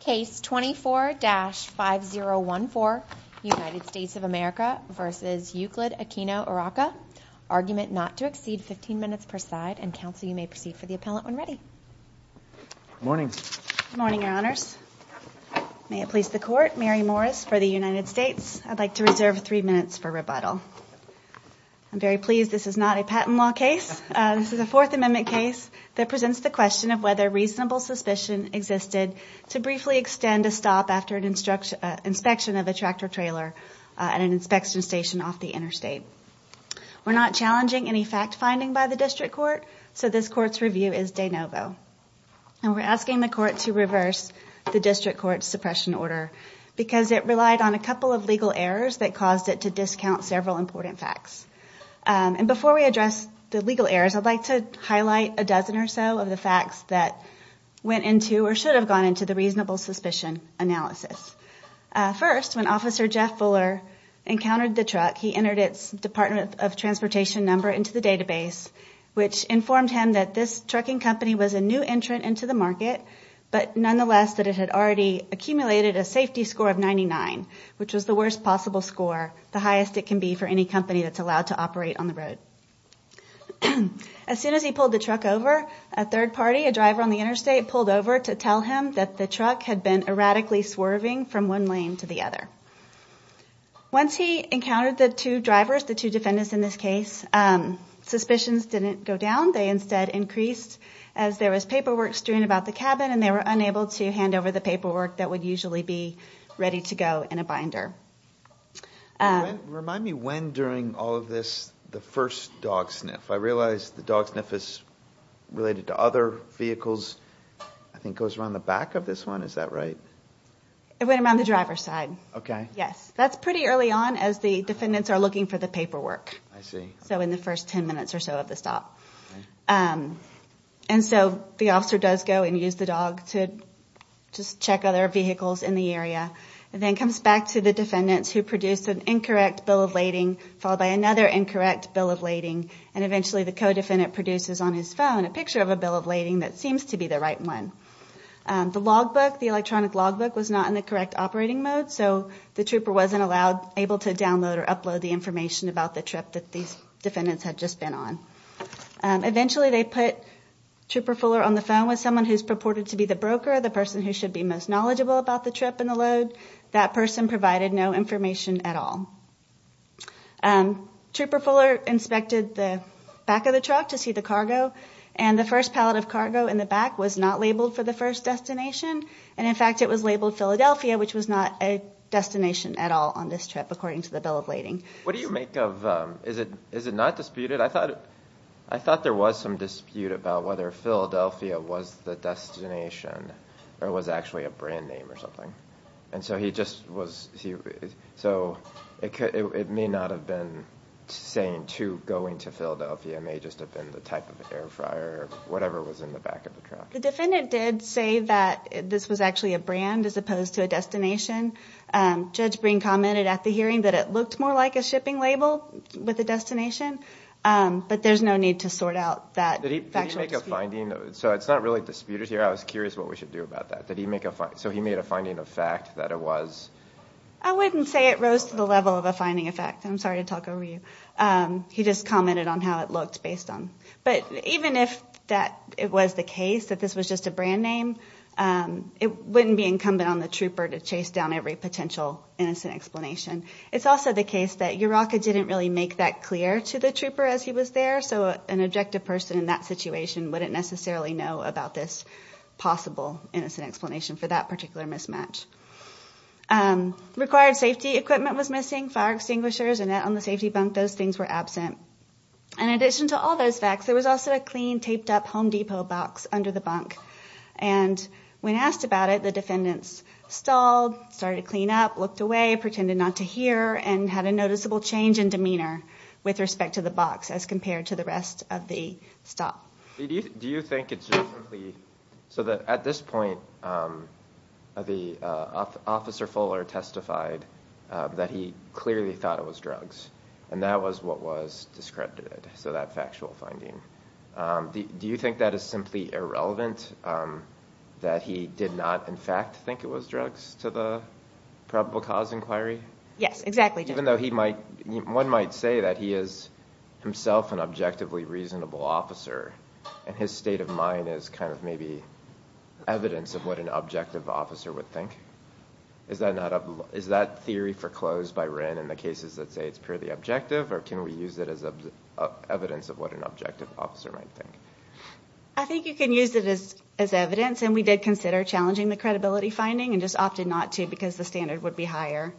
Case 24-5014, United States of America v. Euclide Aquino Urraca. Argument not to exceed 15 minutes per side, and counsel you may proceed for the appellate when ready. Good morning. Good morning, Your Honors. May it please the Court, Mary Morris for the United States. I'd like to reserve three minutes for rebuttal. I'm very pleased this is not a patent law case. This is a Fourth Amendment case that presents the question of whether reasonable suspicion existed to briefly extend a stop after an inspection of a tractor-trailer at an inspection station off the interstate. We're not challenging any fact-finding by the District Court, so this Court's review is de novo. We're asking the Court to reverse the District Court's suppression order because it relied on a couple of legal errors that caused it to discount several important facts. And before we address the legal errors, I'd like to highlight a dozen or so of the facts that went into or should have gone into the reasonable suspicion analysis. First, when Officer Jeff Fuller encountered the truck, he entered its Department of Transportation number into the database, which informed him that this trucking company was a new entrant into the market, but nonetheless that it had already accumulated a safety score of 99, which was the worst possible score, the highest it can be for any company that's allowed to operate on the road. As soon as he pulled the truck over, a third party, a driver on the interstate, pulled over to tell him that the truck had been erratically swerving from one lane to the other. Once he encountered the two drivers, the two defendants in this case, suspicions didn't go down. They instead increased as there was paperwork strewn about the cabin, and they were unable to hand over the paperwork that would usually be ready to go in a binder. Remind me when during all of this the first dog sniff. I realize the dog sniff is related to other vehicles. I think it goes around the back of this one. Is that right? It went around the driver's side. Okay. Yes. That's pretty early on as the defendants are looking for the paperwork. I see. So in the first ten minutes or so of the stop. And so the officer does go and use the dog to just check other vehicles in the area, and then comes back to the defendants who produced an incorrect bill of lading followed by another incorrect bill of lading, and eventually the co-defendant produces on his phone a picture of a bill of lading that seems to be the right one. The logbook, the electronic logbook, was not in the correct operating mode, so the trooper wasn't allowed, able to download or upload the information about the trip that these defendants had just been on. Eventually they put Trooper Fuller on the phone with someone who's purported to be the broker, the person who should be most knowledgeable about the trip and the load. That person provided no information at all. Trooper Fuller inspected the back of the truck to see the cargo, and the first pallet of cargo in the back was not labeled for the first destination, and in fact it was labeled Philadelphia, which was not a destination at all on this trip, according to the bill of lading. What do you make of, is it not disputed? I thought there was some dispute about whether Philadelphia was the destination or was actually a brand name or something. And so he just was, so it may not have been saying to going to Philadelphia, it may just have been the type of air fryer or whatever was in the back of the truck. The defendant did say that this was actually a brand as opposed to a destination. Judge Breen commented at the hearing that it looked more like a shipping label with the destination, but there's no need to sort out that factual dispute. So it's not really disputed here. I was curious what we should do about that. So he made a finding of fact that it was? I wouldn't say it rose to the level of a finding of fact. I'm sorry to talk over you. He just commented on how it looked based on. But even if it was the case that this was just a brand name, it wouldn't be incumbent on the trooper to chase down every potential innocent explanation. It's also the case that Yuroka didn't really make that clear to the trooper as he was there, so an objective person in that situation wouldn't necessarily know about this possible innocent explanation for that particular mismatch. Required safety equipment was missing, fire extinguishers, a net on the safety bunk. Those things were absent. In addition to all those facts, there was also a clean, taped up Home Depot box under the bunk. And when asked about it, the defendants stalled, started to clean up, looked away, pretended not to hear, and had a noticeable change in demeanor with respect to the box as compared to the rest of the stop. Do you think it's just simply... So at this point, Officer Fuller testified that he clearly thought it was drugs, and that was what was discredited, so that factual finding. Do you think that is simply irrelevant, that he did not in fact think it was drugs to the probable cause inquiry? Yes, exactly. Even though one might say that he is himself an objectively reasonable officer, and his state of mind is kind of maybe evidence of what an objective officer would think. Is that theory foreclosed by Wren in the cases that say it's purely objective, or can we use it as evidence of what an objective officer might think? I think you can use it as evidence, and we did consider challenging the credibility finding and just opted not to because the standard would be higher.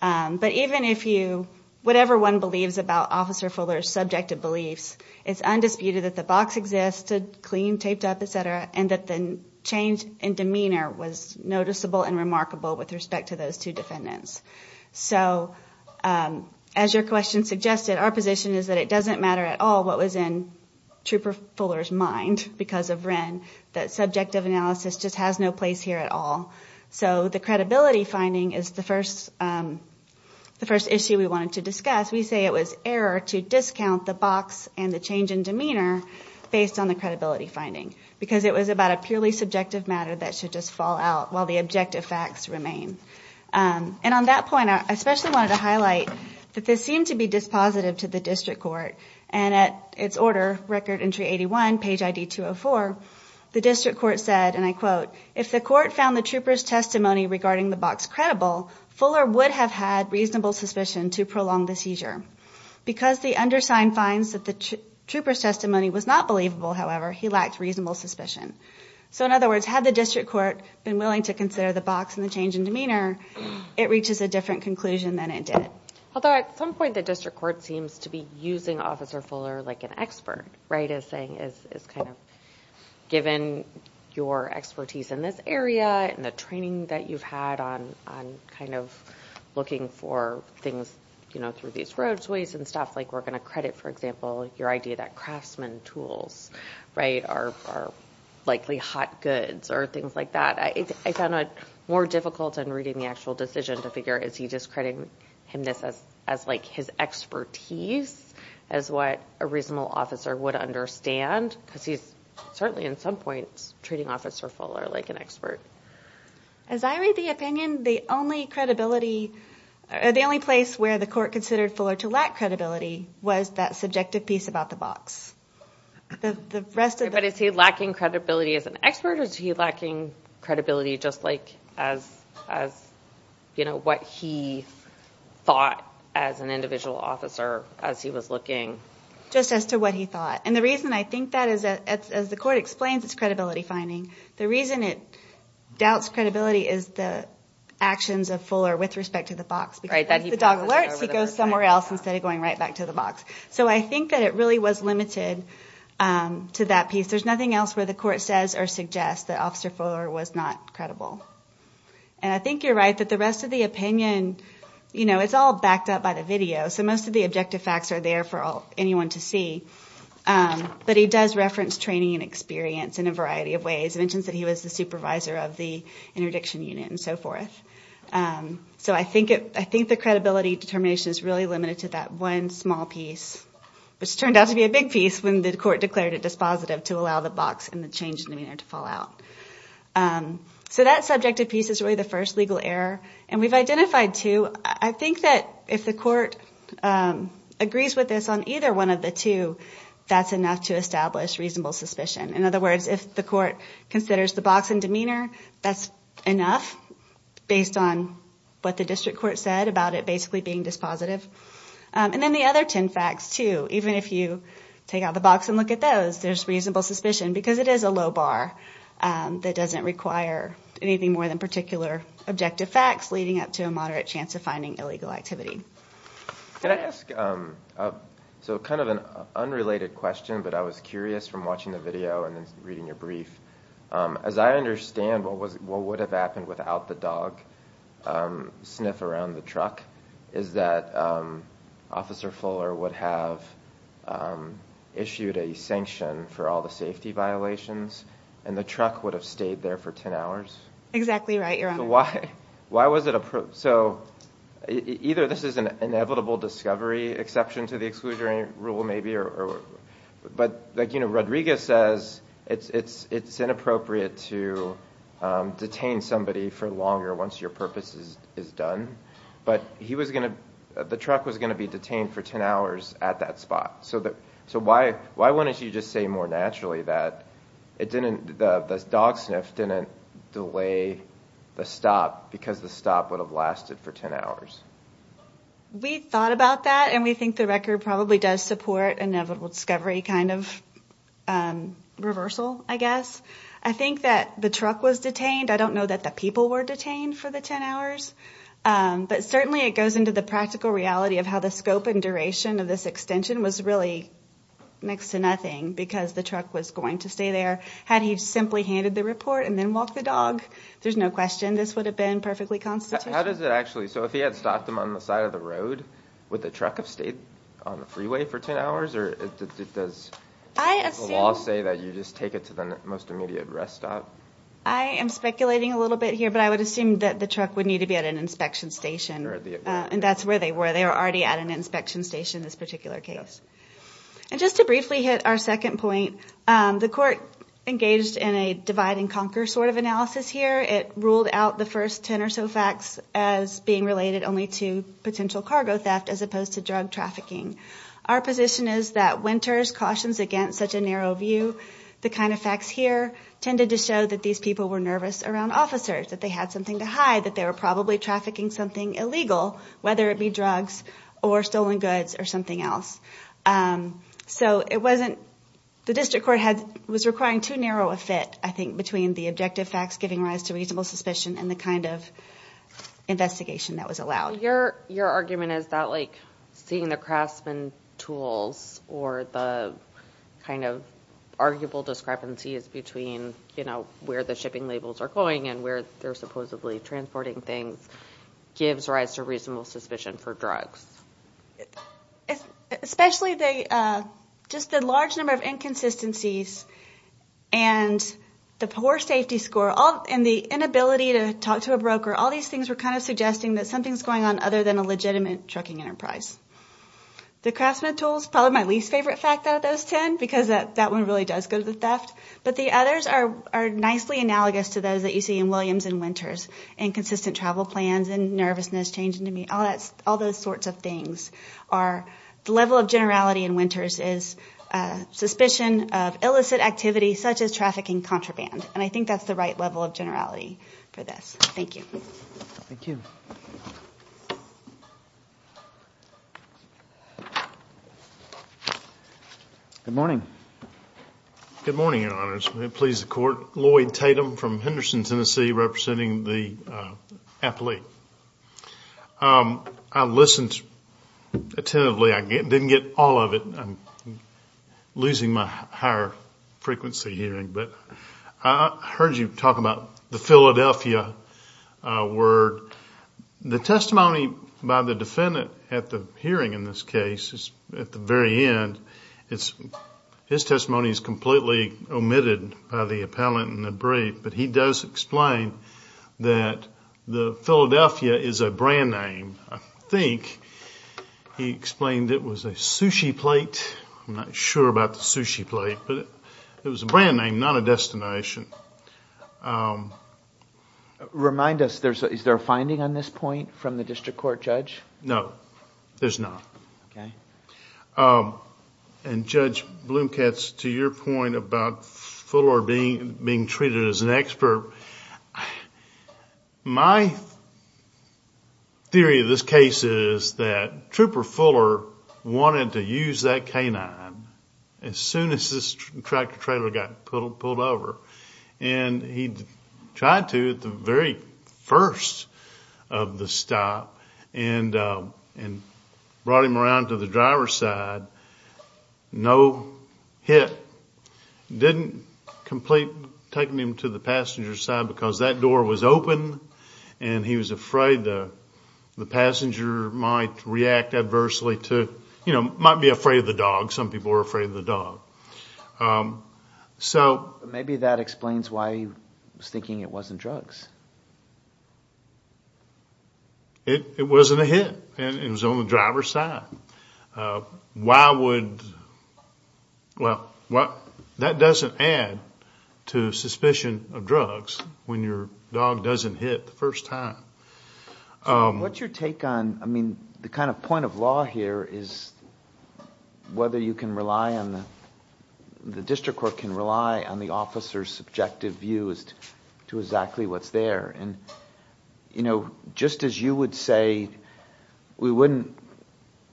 But even if you... Whatever one believes about Officer Fuller's subjective beliefs, it's undisputed that the box existed, clean, taped up, et cetera, and that the change in demeanor was noticeable and remarkable with respect to those two defendants. So as your question suggested, our position is that it doesn't matter at all what was in Trooper Fuller's mind because of Wren. That subjective analysis just has no place here at all. So the credibility finding is the first issue we wanted to discuss. We say it was error to discount the box and the change in demeanor based on the credibility finding because it was about a purely subjective matter that should just fall out while the objective facts remain. And on that point, I especially wanted to highlight that this seemed to be dispositive to the district court, and at its order, Record Entry 81, Page ID 204, the district court said, and I quote, if the court found the trooper's testimony regarding the box credible, Fuller would have had reasonable suspicion to prolong the seizure. Because the undersigned finds that the trooper's testimony was not believable, however, he lacked reasonable suspicion. So in other words, had the district court been willing to consider the box and the change in demeanor, it reaches a different conclusion than it did. Although at some point the district court seems to be using Officer Fuller like an expert, right, as saying it's kind of given your expertise in this area and the training that you've had on kind of looking for things, you know, through these roadways and stuff, like we're going to credit, for example, your idea that craftsman tools, right, are likely hot goods or things like that. I found it more difficult in reading the actual decision to figure, is he just crediting him as, like, his expertise as what a reasonable officer would understand? Because he's certainly in some points treating Officer Fuller like an expert. As I read the opinion, the only place where the court considered Fuller to lack credibility was that subjective piece about the box. But is he lacking credibility as an expert or is he lacking credibility just like as, you know, what he thought as an individual officer as he was looking? Just as to what he thought. And the reason I think that is, as the court explains, it's credibility finding. The reason it doubts credibility is the actions of Fuller with respect to the box. Because if the dog alerts, he goes somewhere else instead of going right back to the box. So I think that it really was limited to that piece. There's nothing else where the court says or suggests that Officer Fuller was not credible. And I think you're right that the rest of the opinion, you know, it's all backed up by the video. So most of the objective facts are there for anyone to see. But he does reference training and experience in a variety of ways. He mentions that he was the supervisor of the interdiction unit and so forth. So I think the credibility determination is really limited to that one small piece, which turned out to be a big piece when the court declared it dispositive to allow the box and the change in demeanor to fall out. So that subjective piece is really the first legal error. And we've identified two. I think that if the court agrees with this on either one of the two, that's enough to establish reasonable suspicion. In other words, if the court considers the box and demeanor, that's enough based on what the district court said about it basically being dispositive. And then the other ten facts, too. Even if you take out the box and look at those, there's reasonable suspicion because it is a low bar that doesn't require anything more than particular objective facts, leading up to a moderate chance of finding illegal activity. Can I ask kind of an unrelated question, but I was curious from watching the video and reading your brief. As I understand, what would have happened without the dog sniff around the truck is that Officer Fuller would have issued a sanction for all the safety violations and the truck would have stayed there for ten hours? Exactly right, Your Honor. So either this is an inevitable discovery exception to the exclusionary rule maybe, but like Rodriguez says, it's inappropriate to detain somebody for longer once your purpose is done. But the truck was going to be detained for ten hours at that spot. So why wouldn't you just say more naturally that the dog sniff didn't delay the stop because the stop would have lasted for ten hours? We thought about that and we think the record probably does support an inevitable discovery kind of reversal, I guess. I think that the truck was detained. I don't know that the people were detained for the ten hours. But certainly it goes into the practical reality of how the scope and duration of this extension was really next to nothing because the truck was going to stay there. Had he simply handed the report and then walked the dog, there's no question this would have been perfectly constitutional. So if he had stopped him on the side of the road, would the truck have stayed on the freeway for ten hours? Or does the law say that you just take it to the most immediate rest stop? I am speculating a little bit here, but I would assume that the truck would need to be at an inspection station, and that's where they were. They were already at an inspection station in this particular case. And just to briefly hit our second point, the court engaged in a divide-and-conquer sort of analysis here. It ruled out the first ten or so facts as being related only to potential cargo theft as opposed to drug trafficking. Our position is that Winters cautions against such a narrow view. The kind of facts here tended to show that these people were nervous around officers, that they had something to hide, that they were probably trafficking something illegal, whether it be drugs or stolen goods or something else. So the district court was requiring too narrow a fit, I think, between the objective facts giving rise to reasonable suspicion and the kind of investigation that was allowed. Your argument is that seeing the craftsman tools or the kind of arguable discrepancies between where the shipping labels are going and where they're supposedly transporting things gives rise to reasonable suspicion for drugs. Especially just the large number of inconsistencies and the poor safety score and the inability to talk to a broker, all these things were kind of suggesting that something's going on other than a legitimate trucking enterprise. The craftsman tools, probably my least favorite fact out of those ten because that one really does go to the theft, but the others are nicely analogous to those that you see in Williams and Winters, inconsistent travel plans and nervousness, changing to meet, all those sorts of things. The level of generality in Winters is suspicion of illicit activity such as trafficking contraband, and I think that's the right level of generality for this. Thank you. Thank you. Good morning. Good morning, Your Honors. May it please the Court. Lloyd Tatum from Henderson, Tennessee, representing the athlete. I listened attentively. I didn't get all of it. I'm losing my higher frequency hearing, but I heard you talk about the Philadelphia word. The testimony by the defendant at the hearing in this case, at the very end, his testimony is completely omitted by the appellant in the brief, but he does explain that Philadelphia is a brand name. I think he explained it was a sushi plate. I'm not sure about the sushi plate, but it was a brand name, not a destination. Remind us, is there a finding on this point from the district court judge? No, there's not. Okay. And Judge Bloomkatz, to your point about Fuller being treated as an expert, my theory of this case is that Trooper Fuller wanted to use that canine as soon as this tractor-trailer got pulled over, and he tried to at the very first of the stop and brought him around to the driver's side. No hit. Didn't complete taking him to the passenger's side because that door was open and he was afraid the passenger might react adversely to, you know, might be afraid of the dog. Some people were afraid of the dog. So maybe that explains why he was thinking it wasn't drugs. It wasn't a hit. It was on the driver's side. Why would, well, that doesn't add to suspicion of drugs when your dog doesn't hit the first time. What's your take on, I mean, the kind of point of law here is whether you can rely on the... the district court can rely on the officer's subjective views to exactly what's there. And, you know, just as you would say, we wouldn't...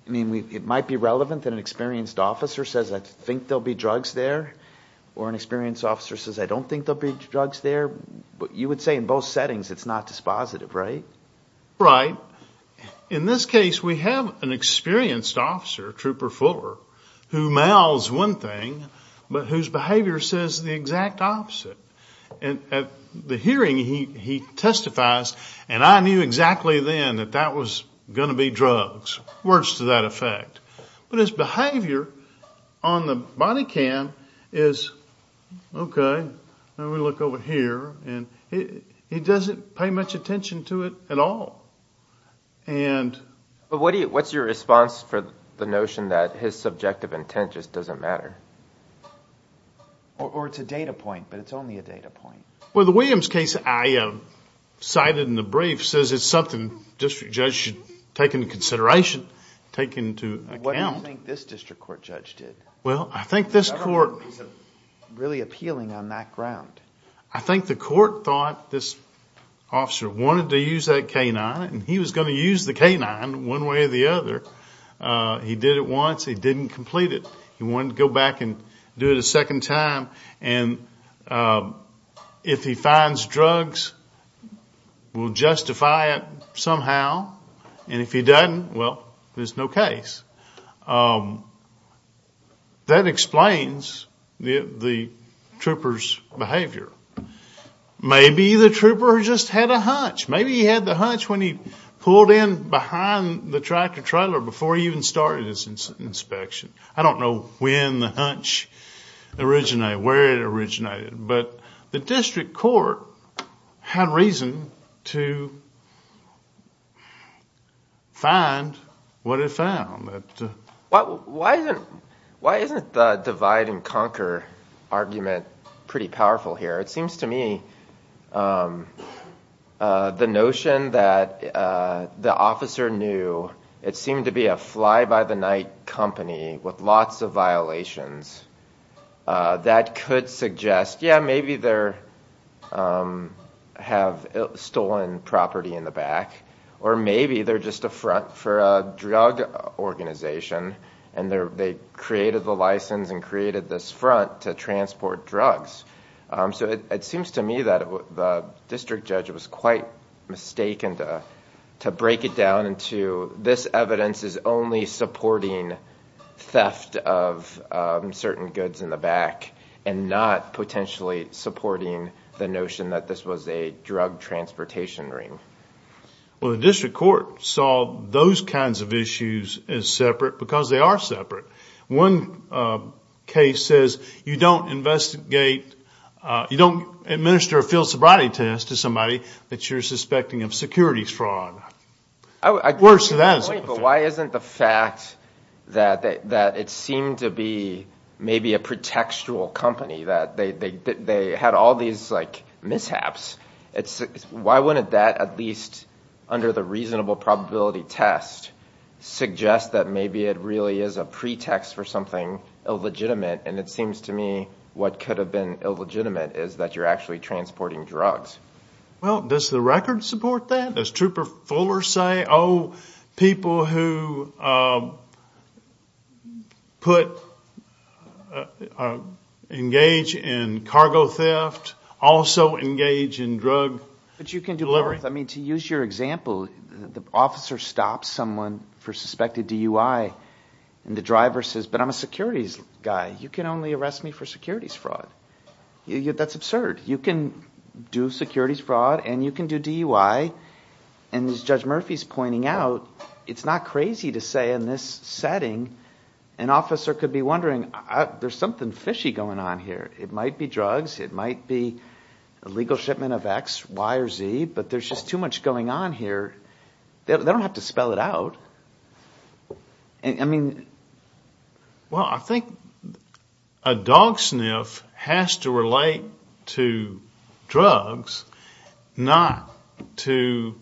I mean, it might be relevant that an experienced officer says, I think there'll be drugs there, or an experienced officer says, I don't think there'll be drugs there. You would say in both settings it's not dispositive, right? Right. In this case, we have an experienced officer, Trooper Fuller, who mouths one thing but whose behavior says the exact opposite. At the hearing, he testifies, and I knew exactly then that that was going to be drugs, words to that effect. But his behavior on the body cam is, okay, now we look over here, and he doesn't pay much attention to it at all. And... But what's your response for the notion that his subjective intent just doesn't matter? Or it's a data point, but it's only a data point. Well, the Williams case I cited in the brief says it's something the district judge should take into consideration, take into account. What do you think this district court judge did? Well, I think this court... Is that a reason really appealing on that ground? I think the court thought this officer wanted to use that canine, and he was going to use the canine one way or the other. He did it once. He didn't complete it. He wanted to go back and do it a second time. And if he finds drugs, we'll justify it somehow. And if he doesn't, well, there's no case. That explains the trooper's behavior. Maybe the trooper just had a hunch. Maybe he had the hunch when he pulled in behind the tractor-trailer before he even started his inspection. I don't know when the hunch originated, where it originated. But the district court had reason to find what it found. Why isn't the divide-and-conquer argument pretty powerful here? It seems to me the notion that the officer knew it seemed to be a fly-by-the-night company with lots of violations, that could suggest, yeah, maybe they have stolen property in the back, or maybe they're just a front for a drug organization, and they created the license and created this front to transport drugs. So it seems to me that the district judge was quite mistaken to break it down into, this evidence is only supporting theft of certain goods in the back and not potentially supporting the notion that this was a drug transportation ring. Well, the district court saw those kinds of issues as separate because they are separate. One case says you don't investigate, you don't administer a field sobriety test to somebody that you're suspecting of securities fraud. I agree with your point, but why isn't the fact that it seemed to be maybe a pretextual company, that they had all these mishaps, why wouldn't that at least under the reasonable probability test suggest that maybe it really is a pretext for something illegitimate? And it seems to me what could have been illegitimate is that you're actually transporting drugs. Well, does the record support that? Does Trooper Fuller say, oh, people who engage in cargo theft also engage in drug delivery? But you can do both. I mean, to use your example, the officer stops someone for suspected DUI, and the driver says, but I'm a securities guy, you can only arrest me for securities fraud. That's absurd. You can do securities fraud and you can do DUI, and as Judge Murphy's pointing out, it's not crazy to say in this setting an officer could be wondering, there's something fishy going on here. It might be drugs, it might be illegal shipment of X, Y, or Z, but there's just too much going on here. They don't have to spell it out. I mean... Well, I think a dog sniff has to relate to drugs, not to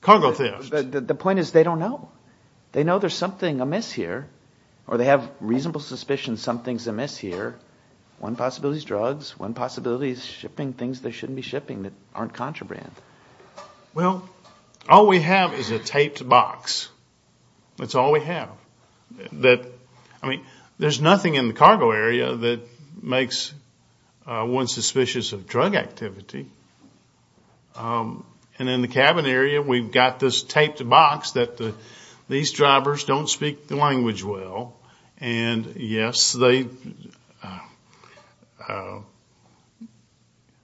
cargo theft. The point is they don't know. They know there's something amiss here, or they have reasonable suspicion something's amiss here. One possibility is drugs, one possibility is shipping things they shouldn't be shipping that aren't contraband. Well, all we have is a taped box. That's all we have. I mean, there's nothing in the cargo area that makes one suspicious of drug activity, and in the cabin area we've got this taped box that these drivers don't speak the language well, and yes,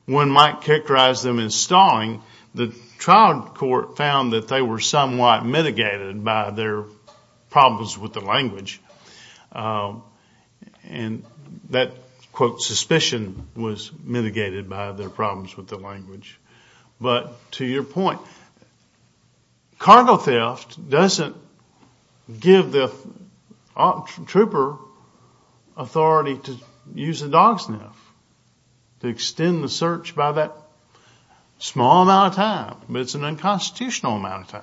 one might characterize them as stalling. The trial court found that they were somewhat mitigated by their problems with the language, and that, quote, suspicion was mitigated by their problems with the language. But to your point, cargo theft doesn't give the trooper authority to use a dog sniff to extend the search by that small amount of time, but it's an unconstitutional amount of time.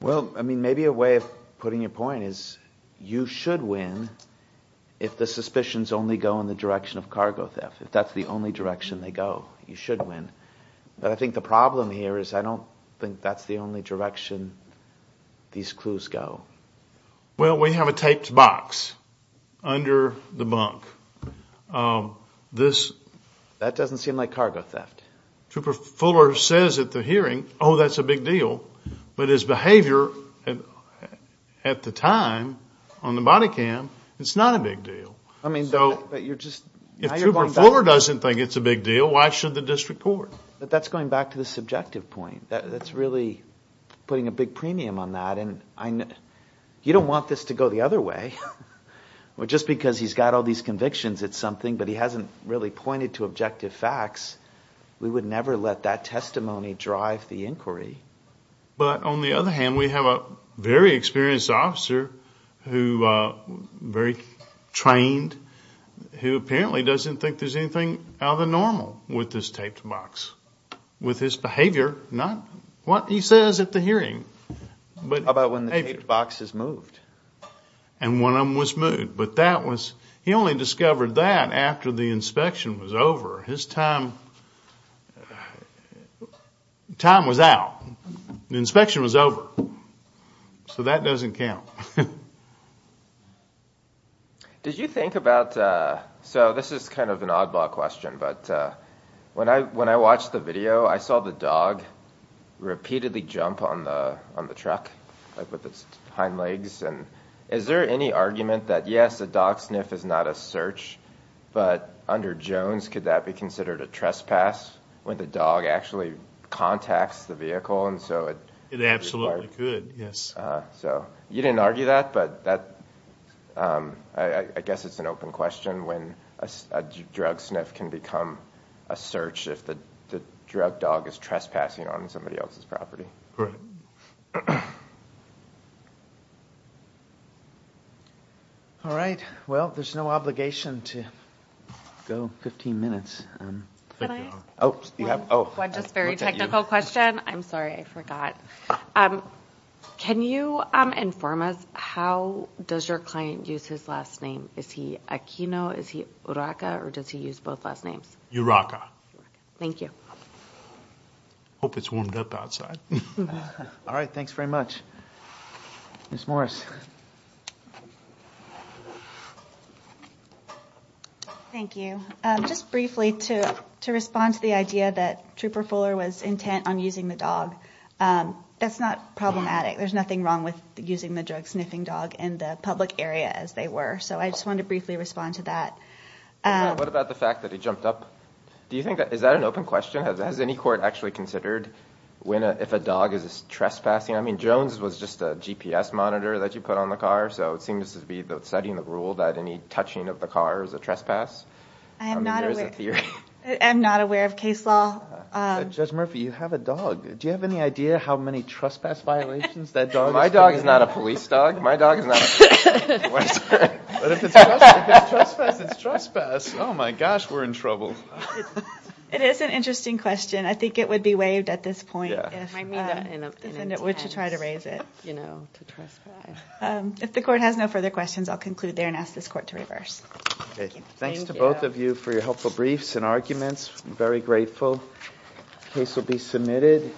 Well, I mean, maybe a way of putting your point is you should win if the suspicions only go in the direction of cargo theft, if that's the only direction they go, you should win. But I think the problem here is I don't think that's the only direction these clues go. Well, we have a taped box under the bunk. That doesn't seem like cargo theft. Trooper Fuller says at the hearing, oh, that's a big deal, but his behavior at the time on the body cam, it's not a big deal. If Trooper Fuller doesn't think it's a big deal, why should the district court? That's going back to the subjective point. That's really putting a big premium on that. You don't want this to go the other way. Just because he's got all these convictions, it's something, but he hasn't really pointed to objective facts. We would never let that testimony drive the inquiry. But on the other hand, we have a very experienced officer, very trained, who apparently doesn't think there's anything out of the normal with this taped box, with his behavior, not what he says at the hearing. How about when the taped box is moved? And one of them was moved. He only discovered that after the inspection was over. His time was out. The inspection was over. So that doesn't count. Did you think about, so this is kind of an oddball question, but when I watched the video, I saw the dog repeatedly jump on the truck with its hind legs. Is there any argument that, yes, a dog sniff is not a search, but under Jones, could that be considered a trespass when the dog actually contacts the vehicle? It absolutely could, yes. You didn't argue that, but I guess it's an open question when a drug sniff can become a search if the drug dog is trespassing on somebody else's property. Correct. All right. Well, there's no obligation to go 15 minutes. Can I ask one just very technical question? I'm sorry, I forgot. Can you inform us how does your client use his last name? Is he Aquino, is he Uraka, or does he use both last names? Uraka. Thank you. I hope it's warmed up outside. All right, thanks very much. Ms. Morris. Thank you. Just briefly, to respond to the idea that Trooper Fuller was intent on using the dog, that's not problematic. There's nothing wrong with using the drug sniffing dog in the public area as they were, so I just wanted to briefly respond to that. What about the fact that he jumped up? Is that an open question? Has any court actually considered if a dog is trespassing? I mean, Jones was just a GPS monitor that you put on the car, so it seems to be setting the rule that any touching of the car is a trespass. I'm not aware of case law. Judge Murphy, you have a dog. Do you have any idea how many trespass violations that dog has committed? My dog is not a police dog. My dog is not a police dog. But if it's trespass, it's trespass. Oh, my gosh, we're in trouble. It is an interesting question. I think it would be waived at this point if the defendant were to try to raise it. If the court has no further questions, I'll conclude there and ask this court to reverse. Thanks to both of you for your helpful briefs and arguments. I'm very grateful. The case will be submitted.